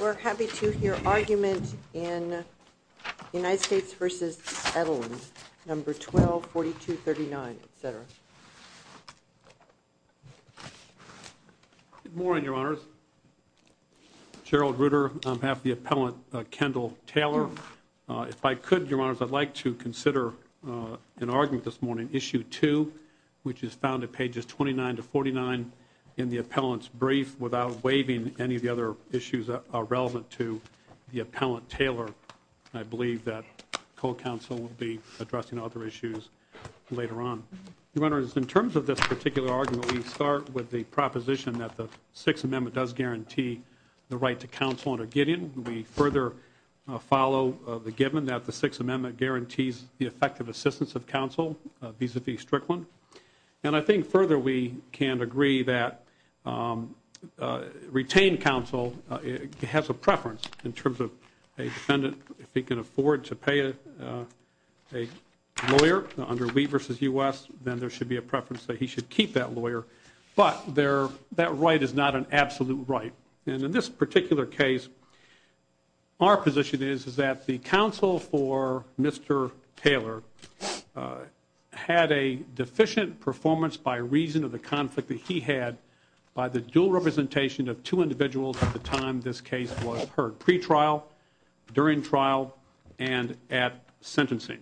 We're happy to hear argument in United States v. Edelens, No. 12-4239, etc. Good morning, Your Honors. Gerald Ruder, I'm happy to appellant Kendall Taylor. If I could, Your Honors, I'd like to consider an argument this morning, Issue 2, which is found at pages 29-49 in the appellant's brief without waiving any of the other issues that are relevant to the appellant Taylor. I believe that co-counsel will be addressing other issues later on. Your Honors, in terms of this particular argument, we start with the proposition that the Sixth Amendment does guarantee the right to counsel under Gideon. We further follow the given that the Sixth Amendment guarantees the effective assistance of counsel vis-à-vis Strickland. And I think further we can agree that retained counsel has a preference in terms of a defendant, if he can afford to pay a lawyer under Wheat v. U.S., then there should be a preference that he should keep that lawyer. But that right is not an absolute right. And in this particular case, our position is that the counsel for Mr. Taylor had a deficient performance by reason of the conflict that he had by the dual representation of two individuals at the time this case was heard, pre-trial, during trial, and at sentencing.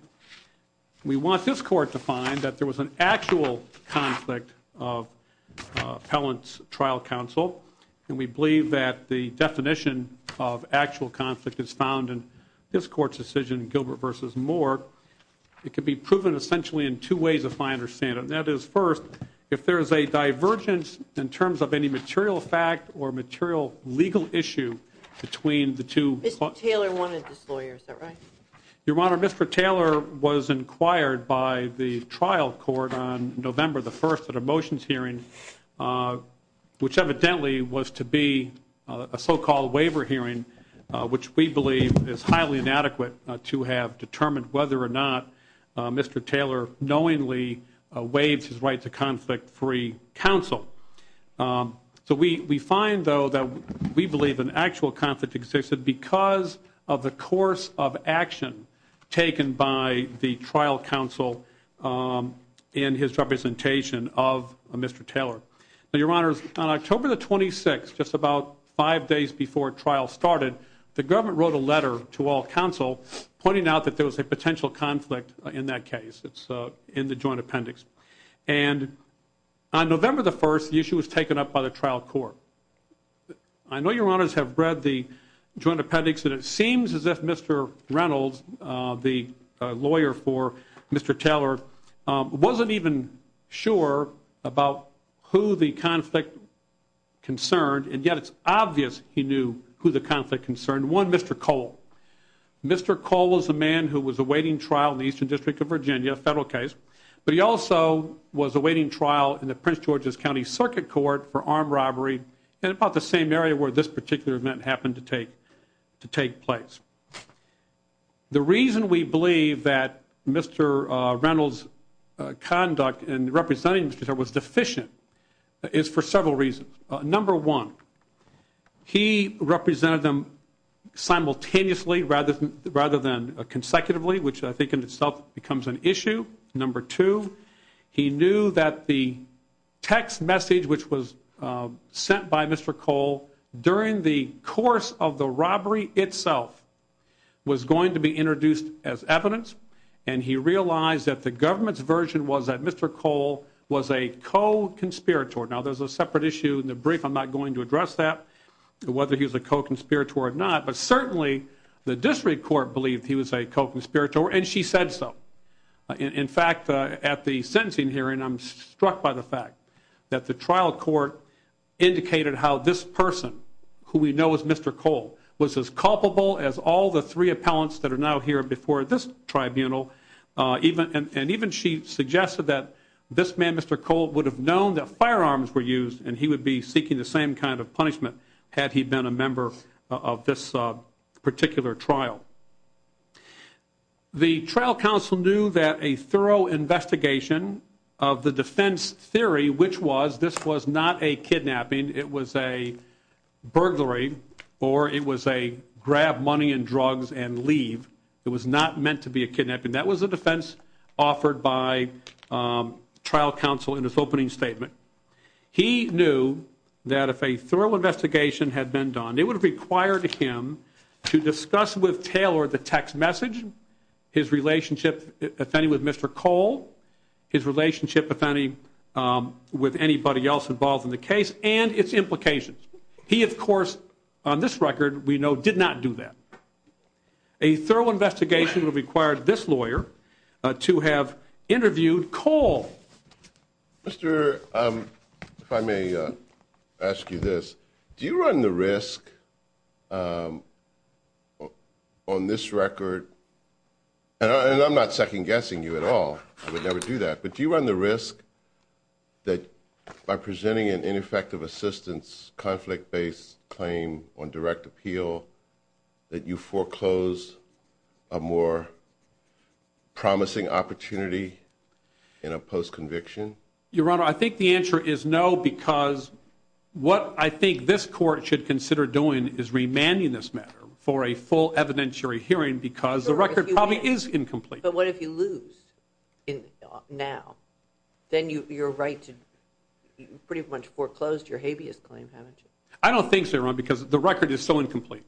We want this court to find that there was an actual conflict of appellant's trial counsel. And we believe that the definition of actual conflict is found in this court's decision, Gilbert v. Moore. It can be proven essentially in two ways, if I understand it. And that is, first, if there is a divergence in terms of any material fact or material legal issue between the two. Mr. Taylor wanted this lawyer, is that right? Your Honor, Mr. Taylor was inquired by the trial court on November the 1st at a motions hearing, which evidently was to be a so-called waiver hearing, which we believe is highly inadequate to have determined whether or not Mr. Taylor knowingly waived his right to conflict-free counsel. So we find, though, that we believe an actual conflict existed because of the course of action taken by the trial counsel in his representation of Mr. Taylor. Your Honor, on October the 26th, just about five days before trial started, the government wrote a letter to all counsel pointing out that there was a potential conflict in that case, in the joint appendix. And on November the 1st, the issue was taken up by the trial court. I know Your Honors have read the joint appendix, and it seems as if Mr. Reynolds, the lawyer for Mr. Taylor, wasn't even sure about who the conflict concerned. And yet it's obvious he knew who the conflict concerned, one, Mr. Cole. Mr. Cole was the man who was awaiting trial in the Eastern District of Virginia, a federal case. But he also was awaiting trial in the Prince George's County Circuit Court for armed robbery in about the same area where this particular event happened to take place. The reason we believe that Mr. Reynolds' conduct in representing Mr. Taylor was deficient is for several reasons. Number one, he represented them simultaneously rather than consecutively, which I think in itself becomes an issue. Number two, he knew that the text message which was sent by Mr. Cole during the course of the robbery itself was going to be introduced as evidence, and he realized that the government's version was that Mr. Cole was a co-conspirator. Now, there's a separate issue in the brief. I'm not going to address that, whether he was a co-conspirator or not. But certainly the district court believed he was a co-conspirator, and she said so. In fact, at the sentencing hearing, I'm struck by the fact that the trial court indicated how this person, who we know as Mr. Cole, was as culpable as all the three appellants that are now here before this tribunal, and even she suggested that this man, Mr. Cole, would have known that firearms were used and he would be seeking the same kind of punishment had he been a member of this particular trial. The trial counsel knew that a thorough investigation of the defense theory, which was this was not a kidnapping. It was a burglary, or it was a grab money and drugs and leave. It was not meant to be a kidnapping. That was the defense offered by trial counsel in his opening statement. He knew that if a thorough investigation had been done, it would have required him to discuss with Taylor the text message, his relationship, if any, with Mr. Cole, his relationship, if any, with anybody else involved in the case and its implications. He, of course, on this record, we know did not do that. A thorough investigation would have required this lawyer to have interviewed Cole. Mr. I may ask you this. Do you run the risk on this record? And I'm not second guessing you at all. I would never do that. But do you run the risk that by presenting an ineffective assistance, conflict based claim on direct appeal, that you foreclose a more promising opportunity in a post conviction? Your Honor, I think the answer is no, because what I think this court should consider doing is remanding this matter for a full evidentiary hearing, because the record probably is incomplete. But what if you lose now? Then you're right to pretty much foreclosed your habeas claim, haven't you? I don't think so, Your Honor, because the record is so incomplete.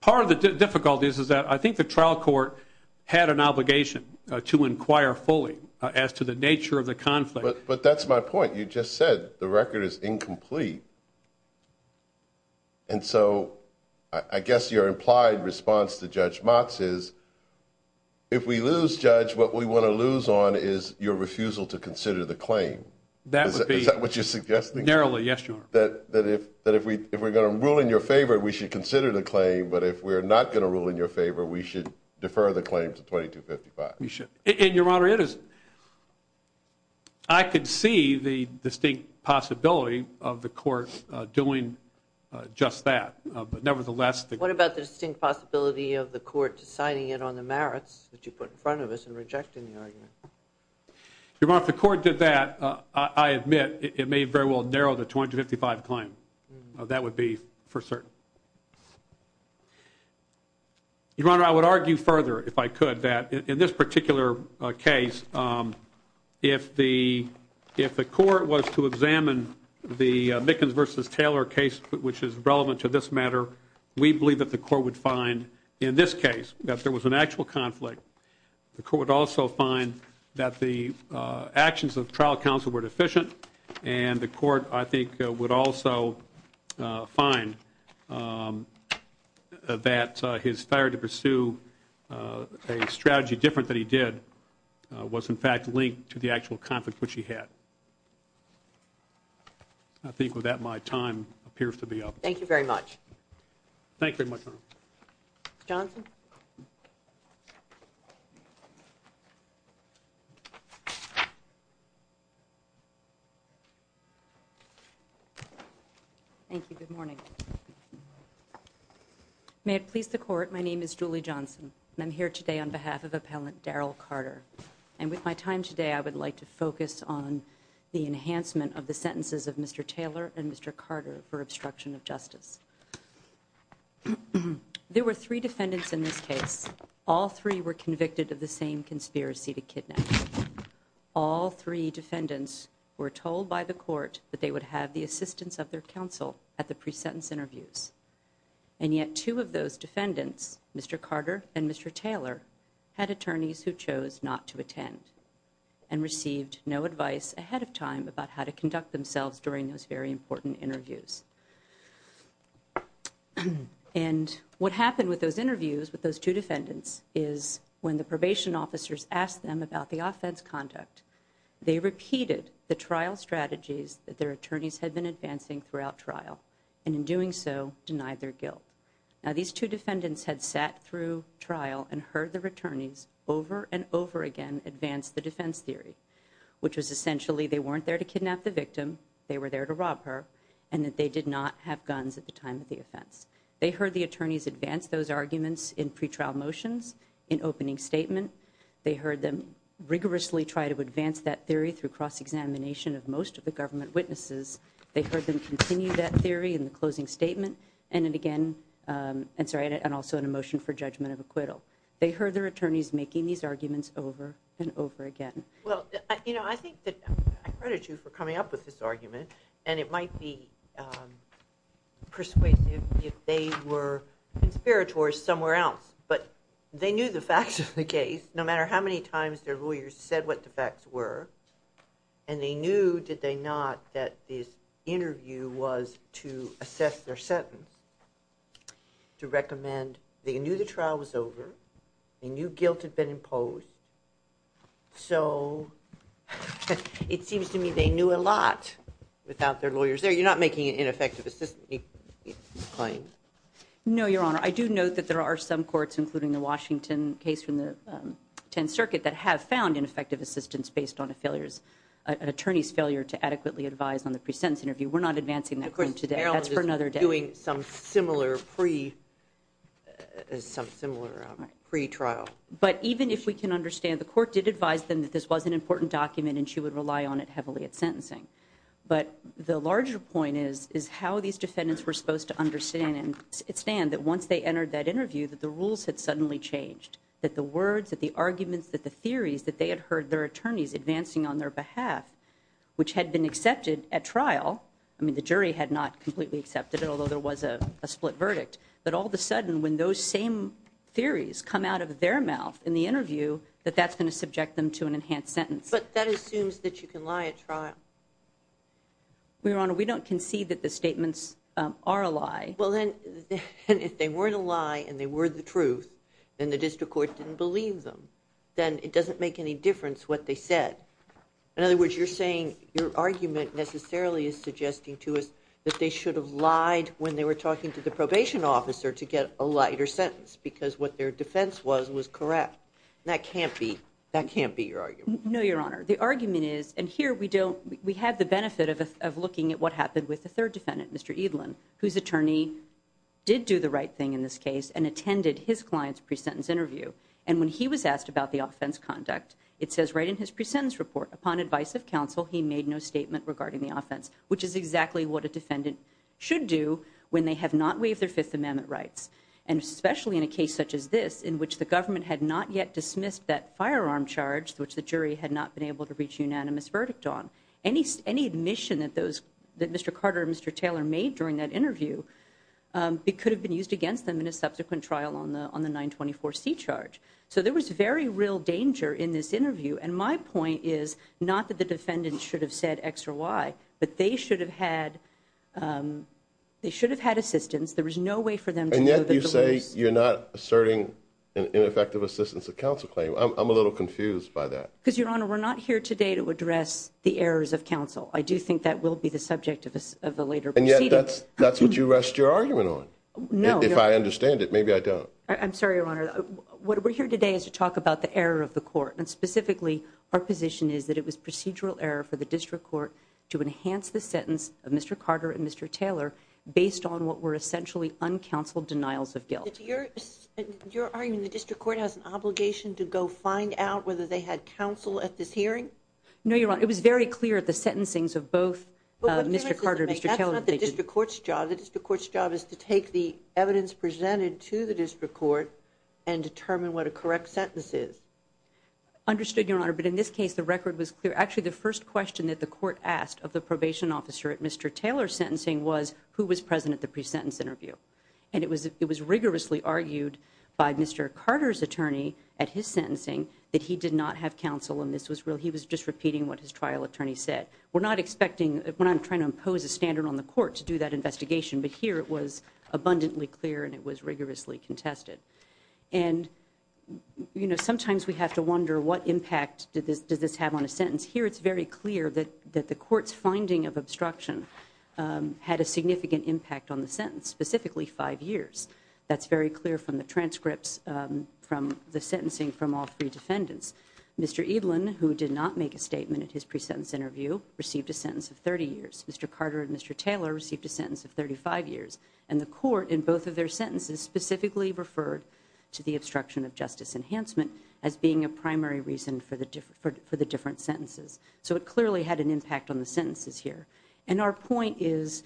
Part of the difficulty is that I think the trial court had an obligation to inquire fully as to the nature of the conflict. But that's my point. You just said the record is incomplete. And so I guess your implied response to Judge Motz is if we lose, Judge, what we want to lose on is your refusal to consider the claim. Is that what you're suggesting? Narrowly, yes, Your Honor. That if we're going to rule in your favor, we should consider the claim. But if we're not going to rule in your favor, we should defer the claim to 2255. And, Your Honor, I could see the distinct possibility of the court doing just that. What about the distinct possibility of the court deciding it on the merits that you put in front of us and rejecting the argument? Your Honor, if the court did that, I admit it may very well narrow the 2255 claim. That would be for certain. Your Honor, I would argue further, if I could, that in this particular case, if the court was to examine the Mickens v. Taylor case, which is relevant to this matter, we believe that the court would find in this case that there was an actual conflict. The court would also find that the actions of trial counsel were deficient, and the court, I think, would also find that his failure to pursue a strategy different than he did was, in fact, linked to the actual conflict which he had. I think with that, my time appears to be up. Thank you very much. Thank you very much, Your Honor. Ms. Johnson? Thank you. Good morning. May it please the Court, my name is Julie Johnson, and I'm here today on behalf of Appellant Darrell Carter. And with my time today, I would like to focus on the enhancement of the sentences of Mr. Taylor and Mr. Carter for obstruction of justice. There were three defendants in this case. All three were convicted of the same conspiracy to kidnap. All three defendants were told by the court that they would have the assistance of their counsel at the pre-sentence interviews. And yet two of those defendants, Mr. Carter and Mr. Taylor, had attorneys who chose not to attend and received no advice ahead of time about how to conduct themselves during those very important interviews. And what happened with those interviews with those two defendants is when the probation officers asked them about the offense conduct, they repeated the trial strategies that their attorneys had been advancing throughout trial, and in doing so, denied their guilt. Now, these two defendants had sat through trial and heard their attorneys over and over again advance the defense theory, which was essentially they weren't there to kidnap the victim, they were there to rob her, and that they did not have guns at the time of the offense. They heard the attorneys advance those arguments in pretrial motions, in opening statement. They heard them rigorously try to advance that theory through cross-examination of most of the government witnesses. They heard them continue that theory in the closing statement, and also in a motion for judgment of acquittal. They heard their attorneys making these arguments over and over again. Well, you know, I think that I credit you for coming up with this argument, and it might be persuasive if they were conspirators somewhere else, but they knew the facts of the case, no matter how many times their lawyers said what the facts were, and they knew, did they not, that this interview was to assess their sentence, to recommend they knew the trial was over, they knew guilt had been imposed, so it seems to me they knew a lot without their lawyers there. You're not making an ineffective assistance claim? No, Your Honor. I do note that there are some courts, including the Washington case from the Tenth Circuit, that have found ineffective assistance based on a failure, an attorney's failure to adequately advise on the pre-sentence interview. We're not advancing that claim today. That's for another day. Of course, Maryland is doing some similar pre-trial. But even if we can understand, the court did advise them that this was an important document, and she would rely on it heavily at sentencing, but the larger point is how these defendants were supposed to understand and understand that once they entered that interview that the rules had suddenly changed, that the words, that the arguments, that the theories, that they had heard their attorneys advancing on their behalf, which had been accepted at trial, I mean the jury had not completely accepted it, although there was a split verdict, that all of a sudden when those same theories come out of their mouth in the interview, that that's going to subject them to an enhanced sentence. But that assumes that you can lie at trial. Your Honor, we don't concede that the statements are a lie. Well, then, if they weren't a lie and they were the truth, then the district court didn't believe them. Then it doesn't make any difference what they said. In other words, you're saying your argument necessarily is suggesting to us that they should have lied when they were talking to the probation officer to get a lighter sentence because what their defense was was correct. That can't be your argument. No, Your Honor. The argument is, and here we have the benefit of looking at what happened with the third defendant, Mr. Edlin, whose attorney did do the right thing in this case and attended his client's pre-sentence interview. And when he was asked about the offense conduct, it says right in his pre-sentence report, upon advice of counsel, he made no statement regarding the offense, which is exactly what a defendant should do when they have not waived their Fifth Amendment rights. And especially in a case such as this, in which the government had not yet dismissed that firearm charge, which the jury had not been able to reach a unanimous verdict on, any admission that Mr. Carter and Mr. Taylor made during that interview, it could have been used against them in a subsequent trial on the 924C charge. So there was very real danger in this interview, and my point is not that the defendant should have said X or Y, but they should have had assistance. There was no way for them to go to the loose. And yet you say you're not asserting ineffective assistance of counsel claim. I'm a little confused by that. Because, Your Honor, we're not here today to address the errors of counsel. I do think that will be the subject of a later proceeding. And yet that's what you rest your argument on. No. If I understand it, maybe I don't. I'm sorry, Your Honor. What we're here today is to talk about the error of the court, and specifically our position is that it was procedural error for the district court to enhance the sentence of Mr. Carter and Mr. Taylor based on what were essentially uncounseled denials of guilt. You're arguing the district court has an obligation to go find out whether they had counsel at this hearing? No, Your Honor. It was very clear at the sentencings of both Mr. Carter and Mr. Taylor. That's not the district court's job. The district court's job is to take the evidence presented to the district court and determine what a correct sentence is. Understood, Your Honor. But in this case, the record was clear. Actually, the first question that the court asked of the probation officer at Mr. Taylor's sentencing was who was present at the pre-sentence interview. And it was rigorously argued by Mr. Carter's attorney at his sentencing that he did not have counsel. He was just repeating what his trial attorney said. We're not expecting, when I'm trying to impose a standard on the court to do that investigation, but here it was abundantly clear and it was rigorously contested. And, you know, sometimes we have to wonder what impact does this have on a sentence. Here it's very clear that the court's finding of obstruction had a significant impact on the sentence, specifically five years. That's very clear from the transcripts from the sentencing from all three defendants. Mr. Edelin, who did not make a statement at his pre-sentence interview, received a sentence of 30 years. Mr. Carter and Mr. Taylor received a sentence of 35 years. And the court, in both of their sentences, specifically referred to the obstruction of justice enhancement as being a primary reason for the different sentences. So it clearly had an impact on the sentences here. And our point is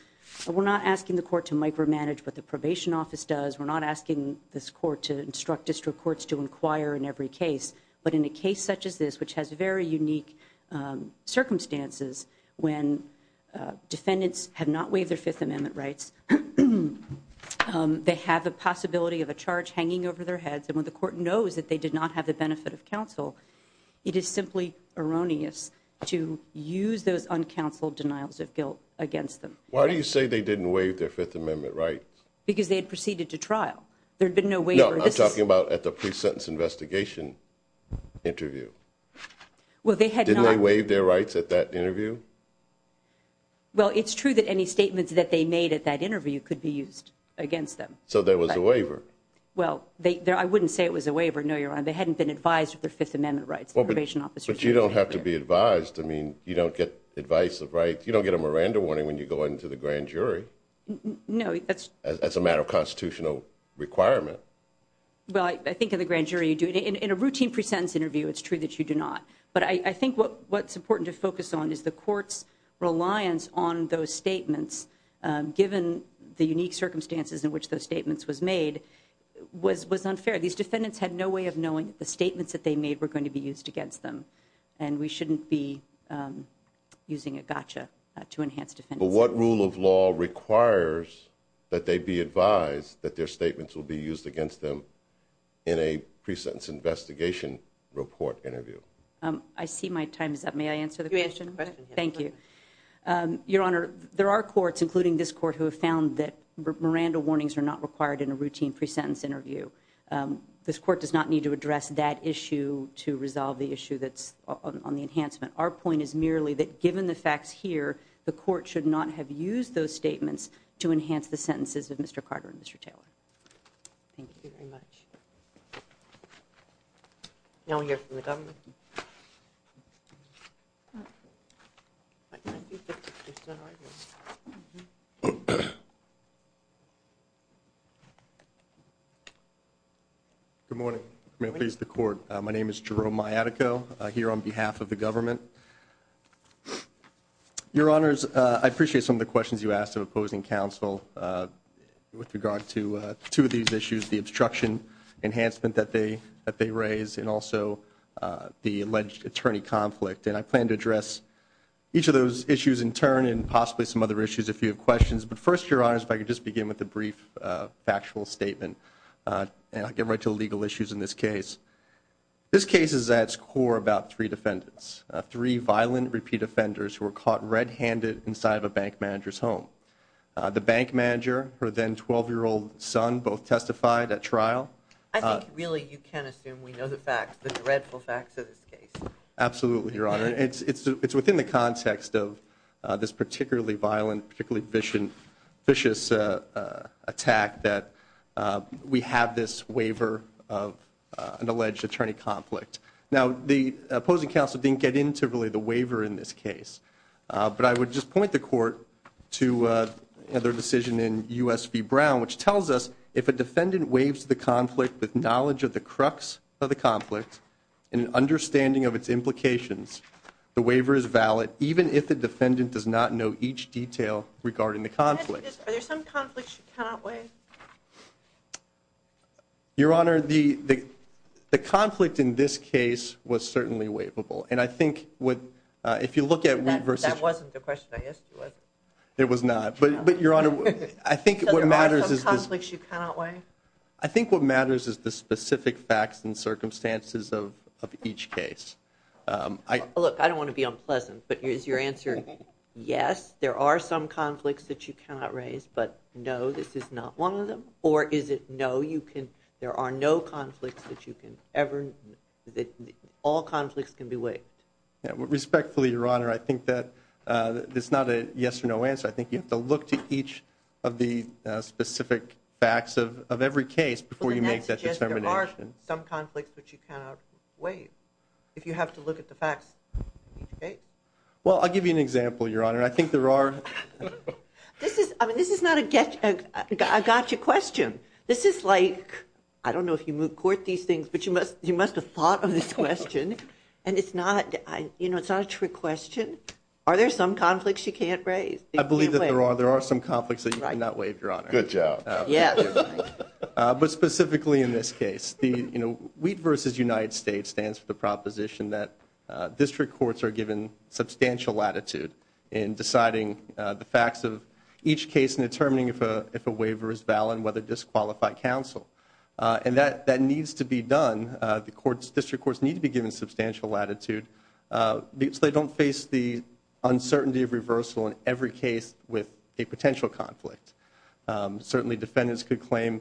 we're not asking the court to micromanage what the probation office does. We're not asking this court to instruct district courts to inquire in every case. But in a case such as this, which has very unique circumstances, when defendants have not waived their Fifth Amendment rights, they have the possibility of a charge hanging over their heads. And when the court knows that they did not have the benefit of counsel, it is simply erroneous to use those uncounseled denials of guilt against them. Why do you say they didn't waive their Fifth Amendment rights? Because they had proceeded to trial. There had been no waiver. No, I'm talking about at the pre-sentence investigation interview. Didn't they waive their rights at that interview? Well, it's true that any statements that they made at that interview could be used against them. So there was a waiver. Well, I wouldn't say it was a waiver, no, Your Honor. They hadn't been advised of their Fifth Amendment rights. But you don't have to be advised. I mean, you don't get advice of rights. You don't get a Miranda warning when you go into the grand jury. No. That's a matter of constitutional requirement. Well, I think in the grand jury you do. In a routine pre-sentence interview, it's true that you do not. But I think what's important to focus on is the court's reliance on those statements, given the unique circumstances in which those statements was made, was unfair. These defendants had no way of knowing that the statements that they made were going to be used against them. And we shouldn't be using a gotcha to enhance defense. But what rule of law requires that they be advised that their statements will be used against them in a pre-sentence investigation report interview? I see my time is up. May I answer the question? Go ahead. Thank you. Your Honor, there are courts, including this court, who have found that Miranda warnings are not required in a routine pre-sentence interview. This court does not need to address that issue to resolve the issue that's on the enhancement. Our point is merely that given the facts here, the court should not have used those statements to enhance the sentences of Mr. Carter and Mr. Taylor. Thank you very much. Now we'll hear from the government. Thank you. Good morning. May it please the Court. My name is Jerome Miatico, here on behalf of the government. Your Honors, I appreciate some of the questions you asked of opposing counsel with regard to two of these issues, the obstruction enhancement that they raised and also the alleged attorney conflict. And I plan to address each of those issues in turn and possibly some other issues if you have questions. But first, Your Honors, if I could just begin with a brief factual statement, and I'll get right to the legal issues in this case. This case is at its core about three defendants, three violent repeat offenders who were caught red-handed inside of a bank manager's home. The bank manager, her then 12-year-old son, both testified at trial. I think really you can assume we know the facts, the dreadful facts of this case. Absolutely, Your Honor. It's within the context of this particularly violent, particularly vicious attack that we have this waiver of an alleged attorney conflict. Now the opposing counsel didn't get into really the waiver in this case, but I would just point the court to their decision in U.S. v. Brown, which tells us if a defendant waives the conflict with knowledge of the crux of the conflict and an understanding of its implications, the waiver is valid, even if the defendant does not know each detail regarding the conflict. Are there some conflicts you cannot waive? Your Honor, the conflict in this case was certainly waivable. That wasn't the question I asked you, was it? It was not. So there are some conflicts you cannot waive? I think what matters is the specific facts and circumstances of each case. Look, I don't want to be unpleasant, but is your answer yes, there are some conflicts that you cannot raise, but no, this is not one of them? Or is it no, there are no conflicts that you can ever, all conflicts can be waived? Respectfully, Your Honor, I think that it's not a yes or no answer. I think you have to look to each of the specific facts of every case before you make that determination. But then that suggests there are some conflicts which you cannot waive if you have to look at the facts of each case. Well, I'll give you an example, Your Honor. This is not a gotcha question. This is like, I don't know if you court these things, but you must have thought of this question, and it's not a trick question. Are there some conflicts you can't raise? I believe that there are some conflicts that you cannot waive, Your Honor. Good job. Yes. But specifically in this case. WEED v. United States stands for the proposition that district courts are given substantial latitude in deciding the facts of each case and determining if a waiver is valid and whether to disqualify counsel. And that needs to be done. The district courts need to be given substantial latitude so they don't face the uncertainty of reversal in every case with a potential conflict. Certainly defendants could claim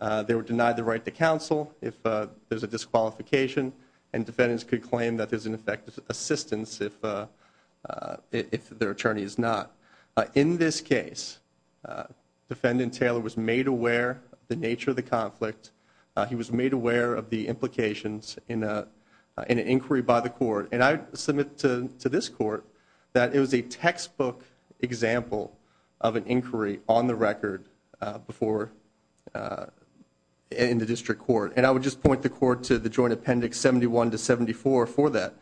they were denied the right to counsel if there's a disqualification, and defendants could claim that there's an effective assistance if their attorney is not. In this case, Defendant Taylor was made aware of the nature of the conflict. He was made aware of the implications in an inquiry by the court. And I submit to this court that it was a textbook example of an inquiry on the record in the district court. And I would just point the court to the Joint Appendix 71 to 74 for that.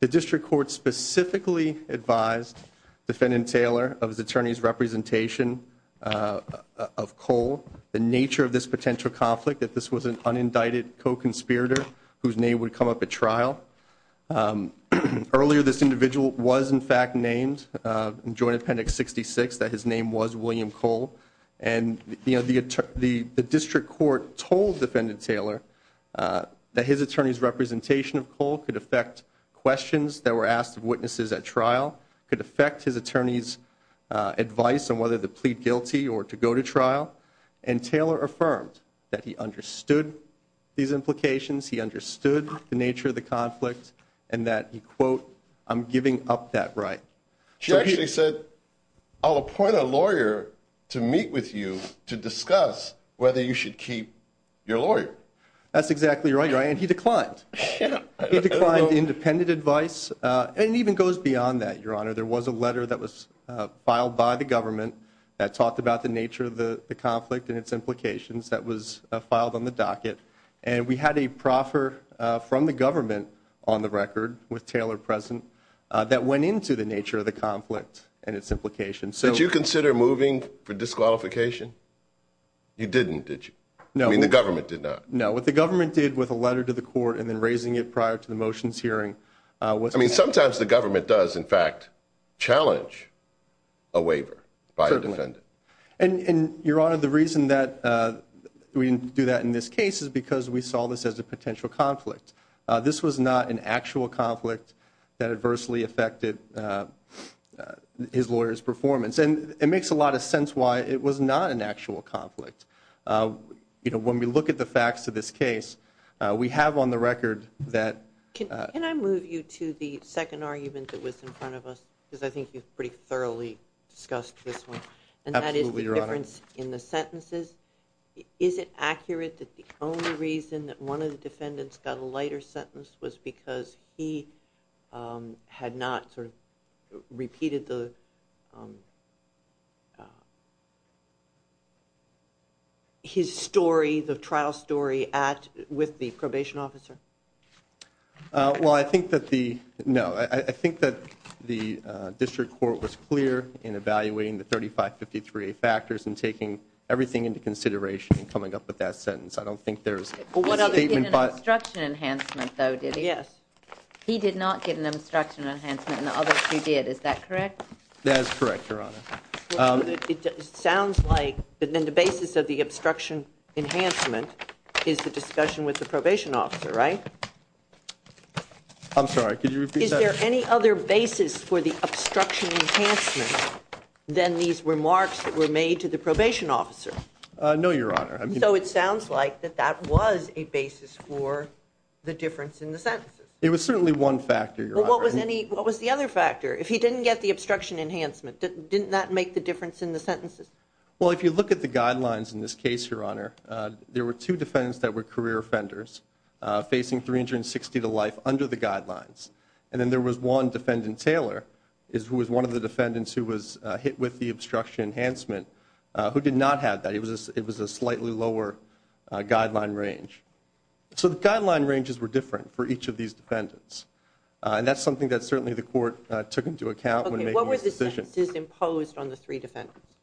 The district court specifically advised Defendant Taylor of his attorney's representation of Cole, the nature of this potential conflict, that this was an unindicted co-conspirator whose name would come up at trial. Earlier, this individual was, in fact, named in Joint Appendix 66, that his name was William Cole. And the district court told Defendant Taylor that his attorney's representation of Cole could affect questions that were asked of witnesses at trial, could affect his attorney's advice on whether to plead guilty or to go to trial. And Taylor affirmed that he understood these implications, he understood the nature of the conflict, and that he, quote, I'm giving up that right. She actually said, I'll appoint a lawyer to meet with you to discuss whether you should keep your lawyer. That's exactly right, and he declined. He declined independent advice. And it even goes beyond that, Your Honor. There was a letter that was filed by the government that talked about the nature of the conflict and its implications that was filed on the docket. And we had a proffer from the government on the record with Taylor present that went into the nature of the conflict and its implications. Did you consider moving for disqualification? You didn't, did you? No. I mean, the government did not. No, what the government did with a letter to the court and then raising it prior to the motions hearing was I mean, sometimes the government does, in fact, challenge a waiver by a defendant. And, Your Honor, the reason that we didn't do that in this case is because we saw this as a potential conflict. This was not an actual conflict that adversely affected his lawyer's performance. And it makes a lot of sense why it was not an actual conflict. You know, when we look at the facts of this case, we have on the record that Can I move you to the second argument that was in front of us? Because I think you've pretty thoroughly discussed this one. Absolutely, Your Honor. And that is the difference in the sentences. Is it accurate that the only reason that one of the defendants got a lighter sentence was because he had not sort of repeated the his story, the trial story with the probation officer? Well, I think that the, no, I think that the district court was clear in evaluating the 3553A factors and taking everything into consideration in coming up with that sentence. I don't think there's a statement by Yes. He did not get an obstruction enhancement and the other two did. Is that correct? That is correct, Your Honor. It sounds like the basis of the obstruction enhancement is the discussion with the probation officer, right? I'm sorry, could you repeat that? Is there any other basis for the obstruction enhancement than these remarks that were made to the probation officer? No, Your Honor. So it sounds like that that was a basis for the difference in the sentences. It was certainly one factor, Your Honor. What was the other factor? If he didn't get the obstruction enhancement, didn't that make the difference in the sentences? Well, if you look at the guidelines in this case, Your Honor, there were two defendants that were career offenders facing 360 to life under the guidelines. And then there was one defendant, Taylor, who was one of the defendants who was hit with the obstruction enhancement, who did not have that. It was a slightly lower guideline range. So the guideline ranges were different for each of these defendants. And that's something that certainly the court took into account when making this decision. Okay, what were the sentences imposed on the three defendants?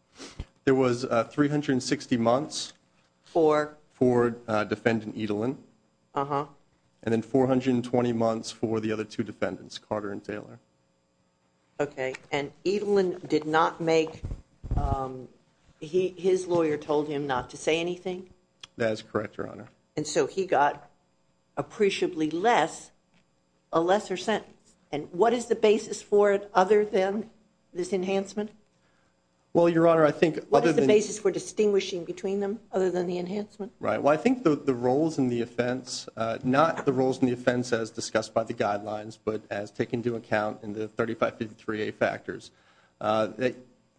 There was 360 months for defendant Edelin. Uh-huh. And then 420 months for the other two defendants, Carter and Taylor. Okay. And Edelin did not make his lawyer told him not to say anything? That is correct, Your Honor. And so he got appreciably less, a lesser sentence. And what is the basis for it other than this enhancement? Well, Your Honor, I think other than. What is the basis for distinguishing between them other than the enhancement? Right. Well, I think the roles in the offense, not the roles in the offense as discussed by the guidelines, but as taken into account in the 3553A factors.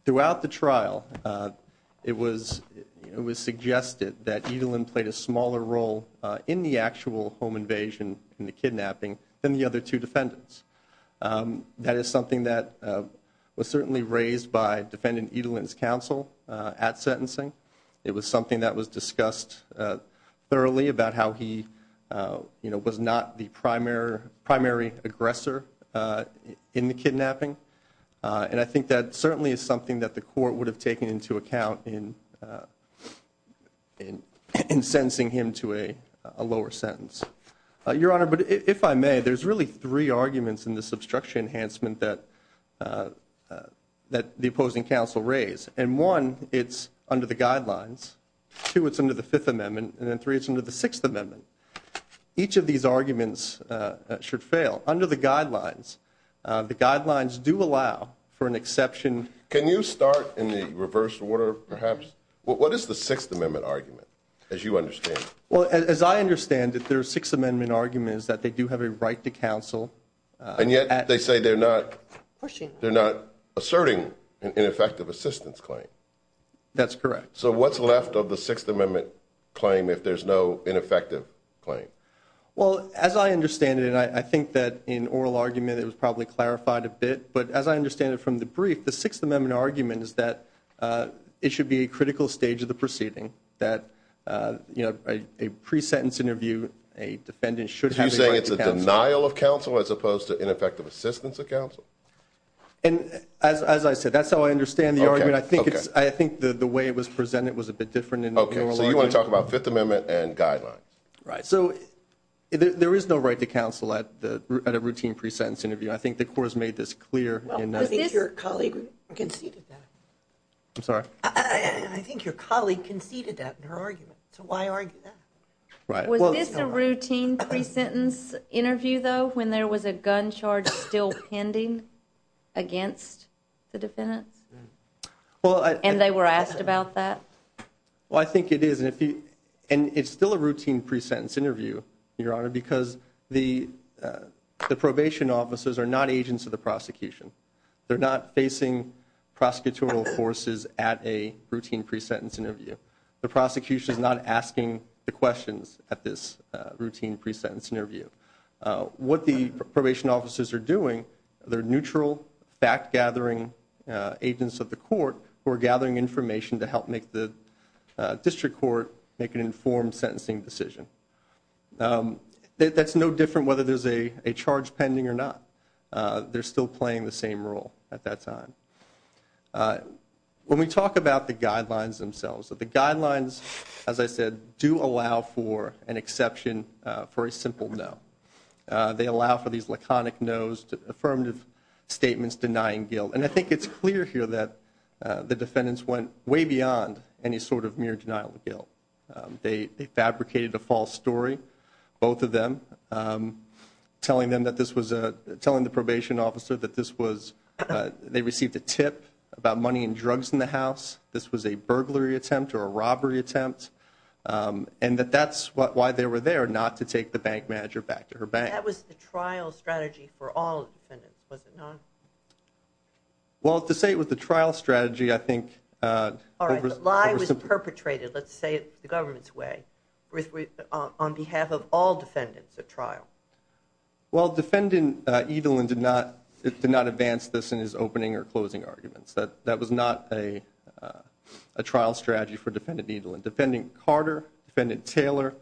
Throughout the trial, it was suggested that Edelin played a smaller role in the actual home invasion and the kidnapping than the other two defendants. That is something that was certainly raised by defendant Edelin's counsel at sentencing. It was something that was discussed thoroughly about how he was not the primary aggressor in the kidnapping. And I think that certainly is something that the court would have taken into account in sentencing him to a lower sentence. Your Honor, but if I may, there's really three arguments in this obstruction enhancement that the opposing counsel raised. And one, it's under the guidelines. Two, it's under the Fifth Amendment. And then three, it's under the Sixth Amendment. Each of these arguments should fail. Under the guidelines, the guidelines do allow for an exception. Can you start in the reverse order, perhaps? What is the Sixth Amendment argument, as you understand it? Well, as I understand it, their Sixth Amendment argument is that they do have a right to counsel. And yet they say they're not asserting an ineffective assistance claim. That's correct. So what's left of the Sixth Amendment claim if there's no ineffective claim? Well, as I understand it, and I think that in oral argument it was probably clarified a bit, but as I understand it from the brief, the Sixth Amendment argument is that it should be a critical stage of the proceeding, that a pre-sentence interview, a defendant should have a right to counsel. As opposed to ineffective assistance of counsel. And as I said, that's how I understand the argument. I think the way it was presented was a bit different in the oral argument. Okay, so you want to talk about Fifth Amendment and guidelines. Right. So there is no right to counsel at a routine pre-sentence interview. I think the Court has made this clear. I think your colleague conceded that. I'm sorry? I think your colleague conceded that in her argument. So why argue that? Was this a routine pre-sentence interview, though, when there was a gun charge still pending against the defendants? And they were asked about that? Well, I think it is, and it's still a routine pre-sentence interview, Your Honor, because the probation officers are not agents of the prosecution. They're not facing prosecutorial forces at a routine pre-sentence interview. The prosecution is not asking the questions at this routine pre-sentence interview. What the probation officers are doing, they're neutral, fact-gathering agents of the court who are gathering information to help make the district court make an informed sentencing decision. That's no different whether there's a charge pending or not. They're still playing the same role at that time. When we talk about the guidelines themselves, the guidelines, as I said, do allow for an exception for a simple no. They allow for these laconic no's, affirmative statements denying guilt, and I think it's clear here that the defendants went way beyond any sort of mere denial of guilt. They fabricated a false story, both of them, telling the probation officer that they received a tip about money and drugs in the house, this was a burglary attempt or a robbery attempt, and that that's why they were there, not to take the bank manager back to her bank. That was the trial strategy for all defendants, was it not? Well, to say it was the trial strategy, I think, All right, the lie was perpetrated, let's say it the government's way, on behalf of all defendants at trial. Well, Defendant Edelin did not advance this in his opening or closing arguments. That was not a trial strategy for Defendant Edelin. Defendant Carter, Defendant Taylor,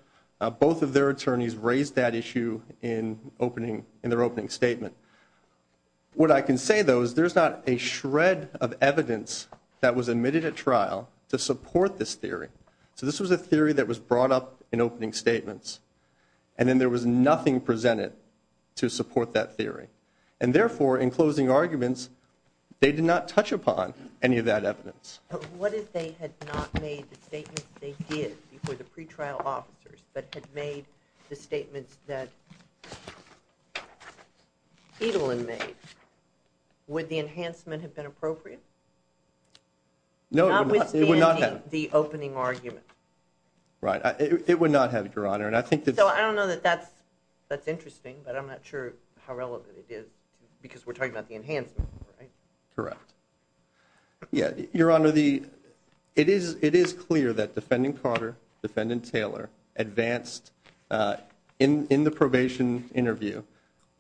both of their attorneys raised that issue in their opening statement. What I can say, though, is there's not a shred of evidence that was admitted at trial to support this theory. So this was a theory that was brought up in opening statements, and then there was nothing presented to support that theory. And therefore, in closing arguments, they did not touch upon any of that evidence. But what if they had not made the statements they did before the pretrial officers, but had made the statements that Edelin made? Would the enhancement have been appropriate? No, it would not have. Not withstanding the opening argument. Right, it would not have, Your Honor. So I don't know that that's interesting, but I'm not sure how relevant it is, because we're talking about the enhancement, right? Correct. Yeah, Your Honor, it is clear that Defendant Carter, Defendant Taylor, advanced in the probation interview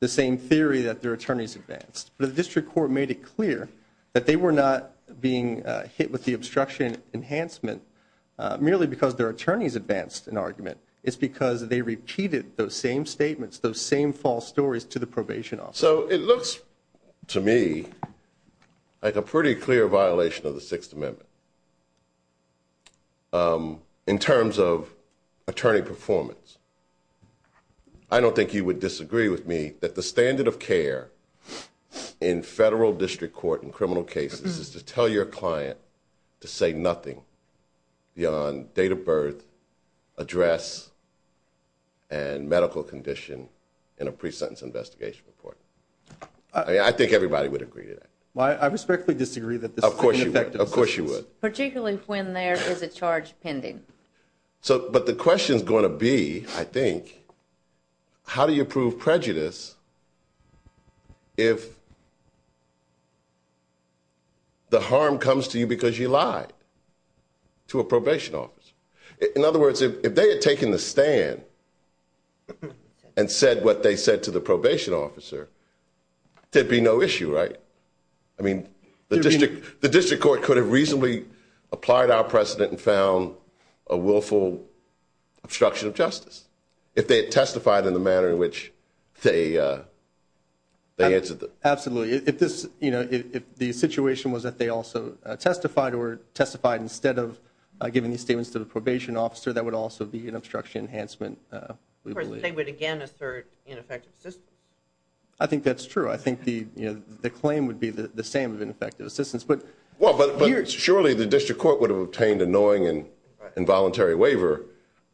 the same theory that their attorneys advanced. But the district court made it clear that they were not being hit with the obstruction enhancement merely because their attorneys advanced an argument. It's because they repeated those same statements, those same false stories to the probation officer. So it looks to me like a pretty clear violation of the Sixth Amendment, in terms of attorney performance. I don't think you would disagree with me that the standard of care in federal district court in criminal cases is to tell your client to say nothing beyond date of birth, address, and medical condition in a pre-sentence investigation report. I think everybody would agree to that. I respectfully disagree that this is ineffective assistance. Of course you would. Particularly when there is a charge pending. But the question is going to be, I think, how do you prove prejudice if the harm comes to you because you lied to a probation officer? In other words, if they had taken the stand and said what they said to the probation officer, there would be no issue, right? I mean, the district court could have reasonably applied our precedent and found a willful obstruction of justice if they had testified in the manner in which they answered. Absolutely. If the situation was that they also testified or testified instead of giving these statements to the probation officer, that would also be an obstruction enhancement, we believe. Of course, they would again assert ineffective assistance. I think that's true. I think the claim would be the same of ineffective assistance. But surely the district court would have obtained a knowing and involuntary waiver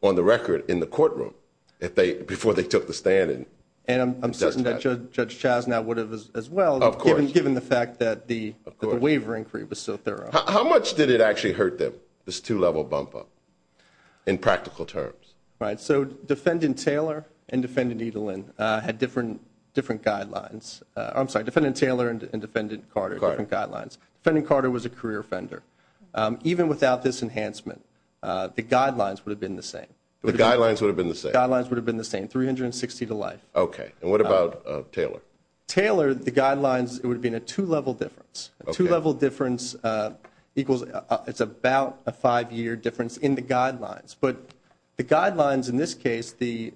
on the record in the courtroom before they took the stand and testified. And I'm certain that Judge Chasnow would have as well, given the fact that the waiver inquiry was so thorough. How much did it actually hurt them, this two-level bump-up, in practical terms? Right. So Defendant Taylor and Defendant Edelin had different guidelines. I'm sorry, Defendant Taylor and Defendant Carter had different guidelines. Defendant Carter was a career offender. Even without this enhancement, the guidelines would have been the same. The guidelines would have been the same. The guidelines would have been the same, 360 to life. Okay. And what about Taylor? Taylor, the guidelines would have been a two-level difference. A two-level difference equals about a five-year difference in the guidelines. But the guidelines in this case, the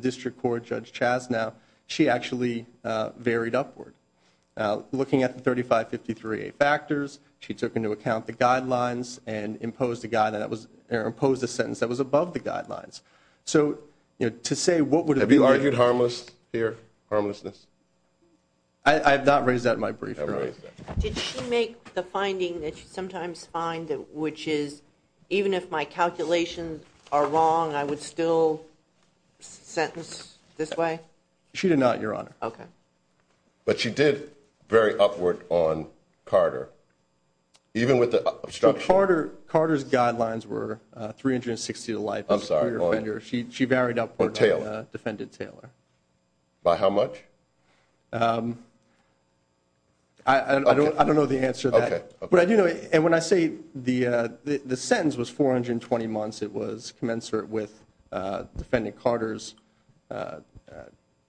district court Judge Chasnow, she actually varied upward. Looking at the 3553A factors, she took into account the guidelines and imposed a sentence that was above the guidelines. So to say what would have been- Have you argued harmless here, harmlessness? I have not raised that in my brief, Your Honor. Did she make the finding that you sometimes find, which is even if my calculations are wrong, I would still sentence this way? She did not, Your Honor. Okay. But she did vary upward on Carter, even with the obstruction. Carter's guidelines were 360 to life. I'm sorry. She varied upward on Defendant Taylor. By how much? I don't know the answer to that. Okay. And when I say the sentence was 420 months, it was commensurate with Defendant Carter's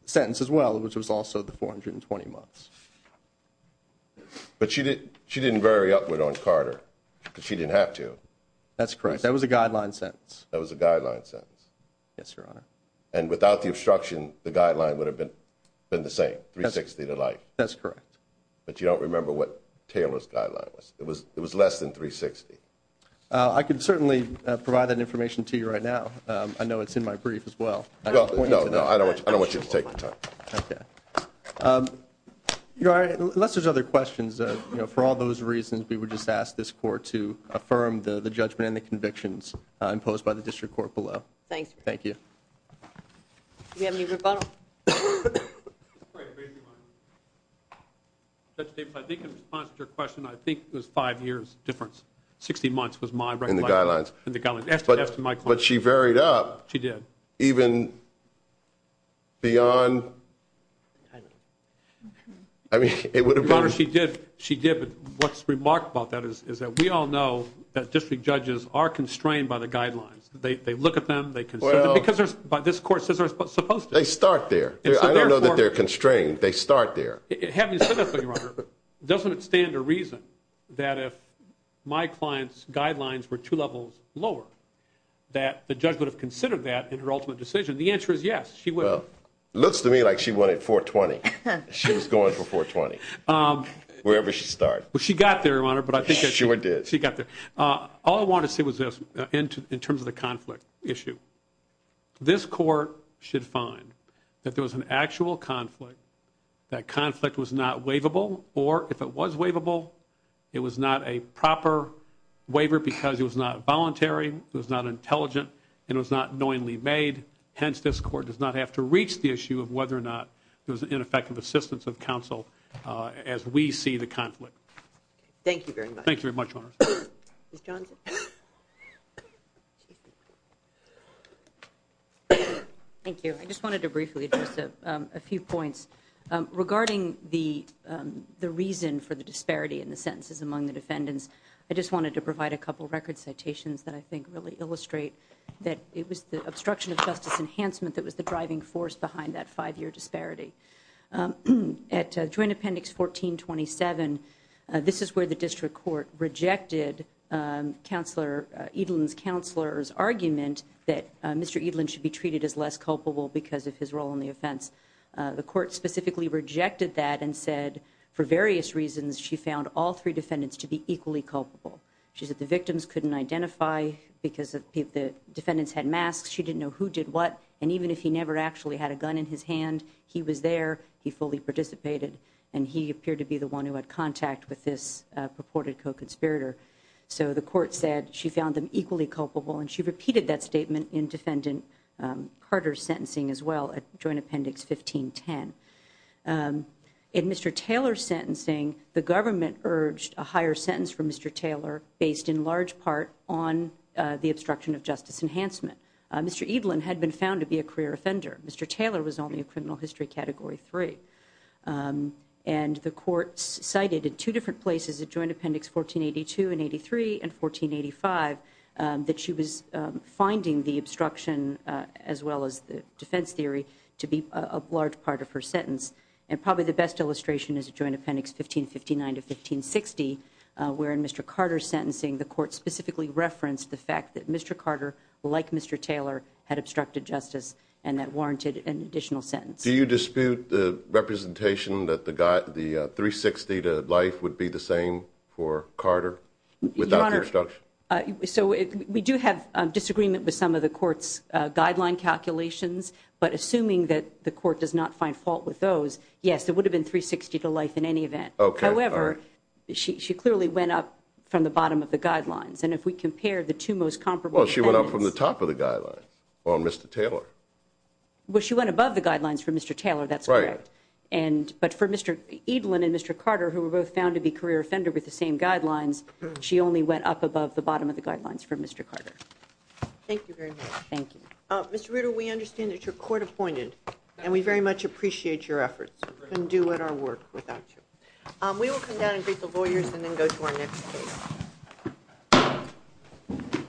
sentence as well, which was also the 420 months. But she didn't vary upward on Carter because she didn't have to. That's correct. That was a guideline sentence. That was a guideline sentence. Yes, Your Honor. And without the obstruction, the guideline would have been the same, 360 to life. That's correct. But you don't remember what Taylor's guideline was. It was less than 360. I can certainly provide that information to you right now. I know it's in my brief as well. Well, no, no. I don't want you to take the time. Okay. Your Honor, unless there's other questions, for all those reasons, we would just ask this court to affirm the judgment and the convictions imposed by the district court below. Thanks. Thank you. Do we have any rebuttal? Judge Davis, I think in response to your question, I think it was five years difference. Sixty months was my recommendation. In the guidelines. In the guidelines. But she varied up. She did. I mean, it would have been. Your Honor, she did. She did. But what's remarked about that is that we all know that district judges are constrained by the guidelines. They look at them. They consider them. Well. Because this court says they're supposed to. They start there. I don't know that they're constrained. They start there. Having said that, Your Honor, doesn't it stand to reason that if my client's guidelines were two levels lower, that the judge would have considered that in her rebuttal? No. No. No. No. No. No. No. No. No. No. No. No. No. No you don't. Because I think she did make her ultimate decision. The answer is yes, she will. Well, it looks to me like she went in 420. She was going for 420, wherever she started. Well she got there, Your Honor. But I think she got there. All I want to say was this in terms of the conflict issue, this court should find that there was an actual conflict. That conflict was not waivable. Or if it was waivable, it was not a proper waiver because it was not voluntary, it was not intelligent, and it was not knowingly made. Hence, this court does not have to reach the issue of whether or not there was ineffective assistance of counsel as we see the conflict. Thank you very much. Thank you very much, Your Honor. Ms. Johnson? Thank you. I just wanted to briefly address a few points. Regarding the reason for the disparity in the sentences among the defendants, I just wanted to provide a couple record citations that I think really illustrate that it was the obstruction of justice enhancement that was the driving force behind that five-year disparity. At Joint Appendix 1427, this is where the District Court rejected Counselor Edelin's counselor's argument that Mr. Edelin should be treated as less culpable because of his role in the offense. The court specifically rejected that and said, for various reasons, she found all three defendants to be equally culpable. She said the victims couldn't identify because the defendants had masks, she didn't know who did what, and even if he never actually had a gun in his hand, he was there, he fully participated, and he appeared to be the one who had contact with this purported co-conspirator. So the court said she found them equally culpable, and she repeated that statement in Defendant Carter's sentencing as well at Joint Appendix 1510. In Mr. Taylor's sentencing, the government urged a higher sentence for Mr. Taylor based in large part on the obstruction of justice enhancement. Mr. Edelin had been found to be a career offender. Mr. Taylor was only a criminal history Category 3. And the court cited in two different places at Joint Appendix 1482 and 83 and 1485 that she was finding the obstruction as well as the defense theory to be a large part of her sentence. And probably the best illustration is at Joint Appendix 1559 to 1560, where in Mr. Carter's sentencing, the court specifically referenced the fact that Mr. Carter, like Mr. Taylor, had obstructed justice and that warranted an additional sentence. Do you dispute the representation that the 360 to life would be the same for Carter without the obstruction? Your Honor, so we do have disagreement with some of the court's guideline calculations, but assuming that the court does not find fault with those, yes, it would have been 360 to life in any event. However, she clearly went up from the bottom of the guidelines, and if we compare the two most comparable sentences... Well, she went up from the top of the guidelines on Mr. Taylor. Well, she went above the guidelines for Mr. Taylor. That's right. And but for Mr. Edelman and Mr. Carter, who were both found to be career offender with the same guidelines, she only went up above the bottom of the guidelines for Mr. Carter. Thank you very much. Thank you. Mr. Ritter, we understand that your court appointed and we very much appreciate your efforts and do what our work without you. We will come down and greet the lawyers and then go to our next case.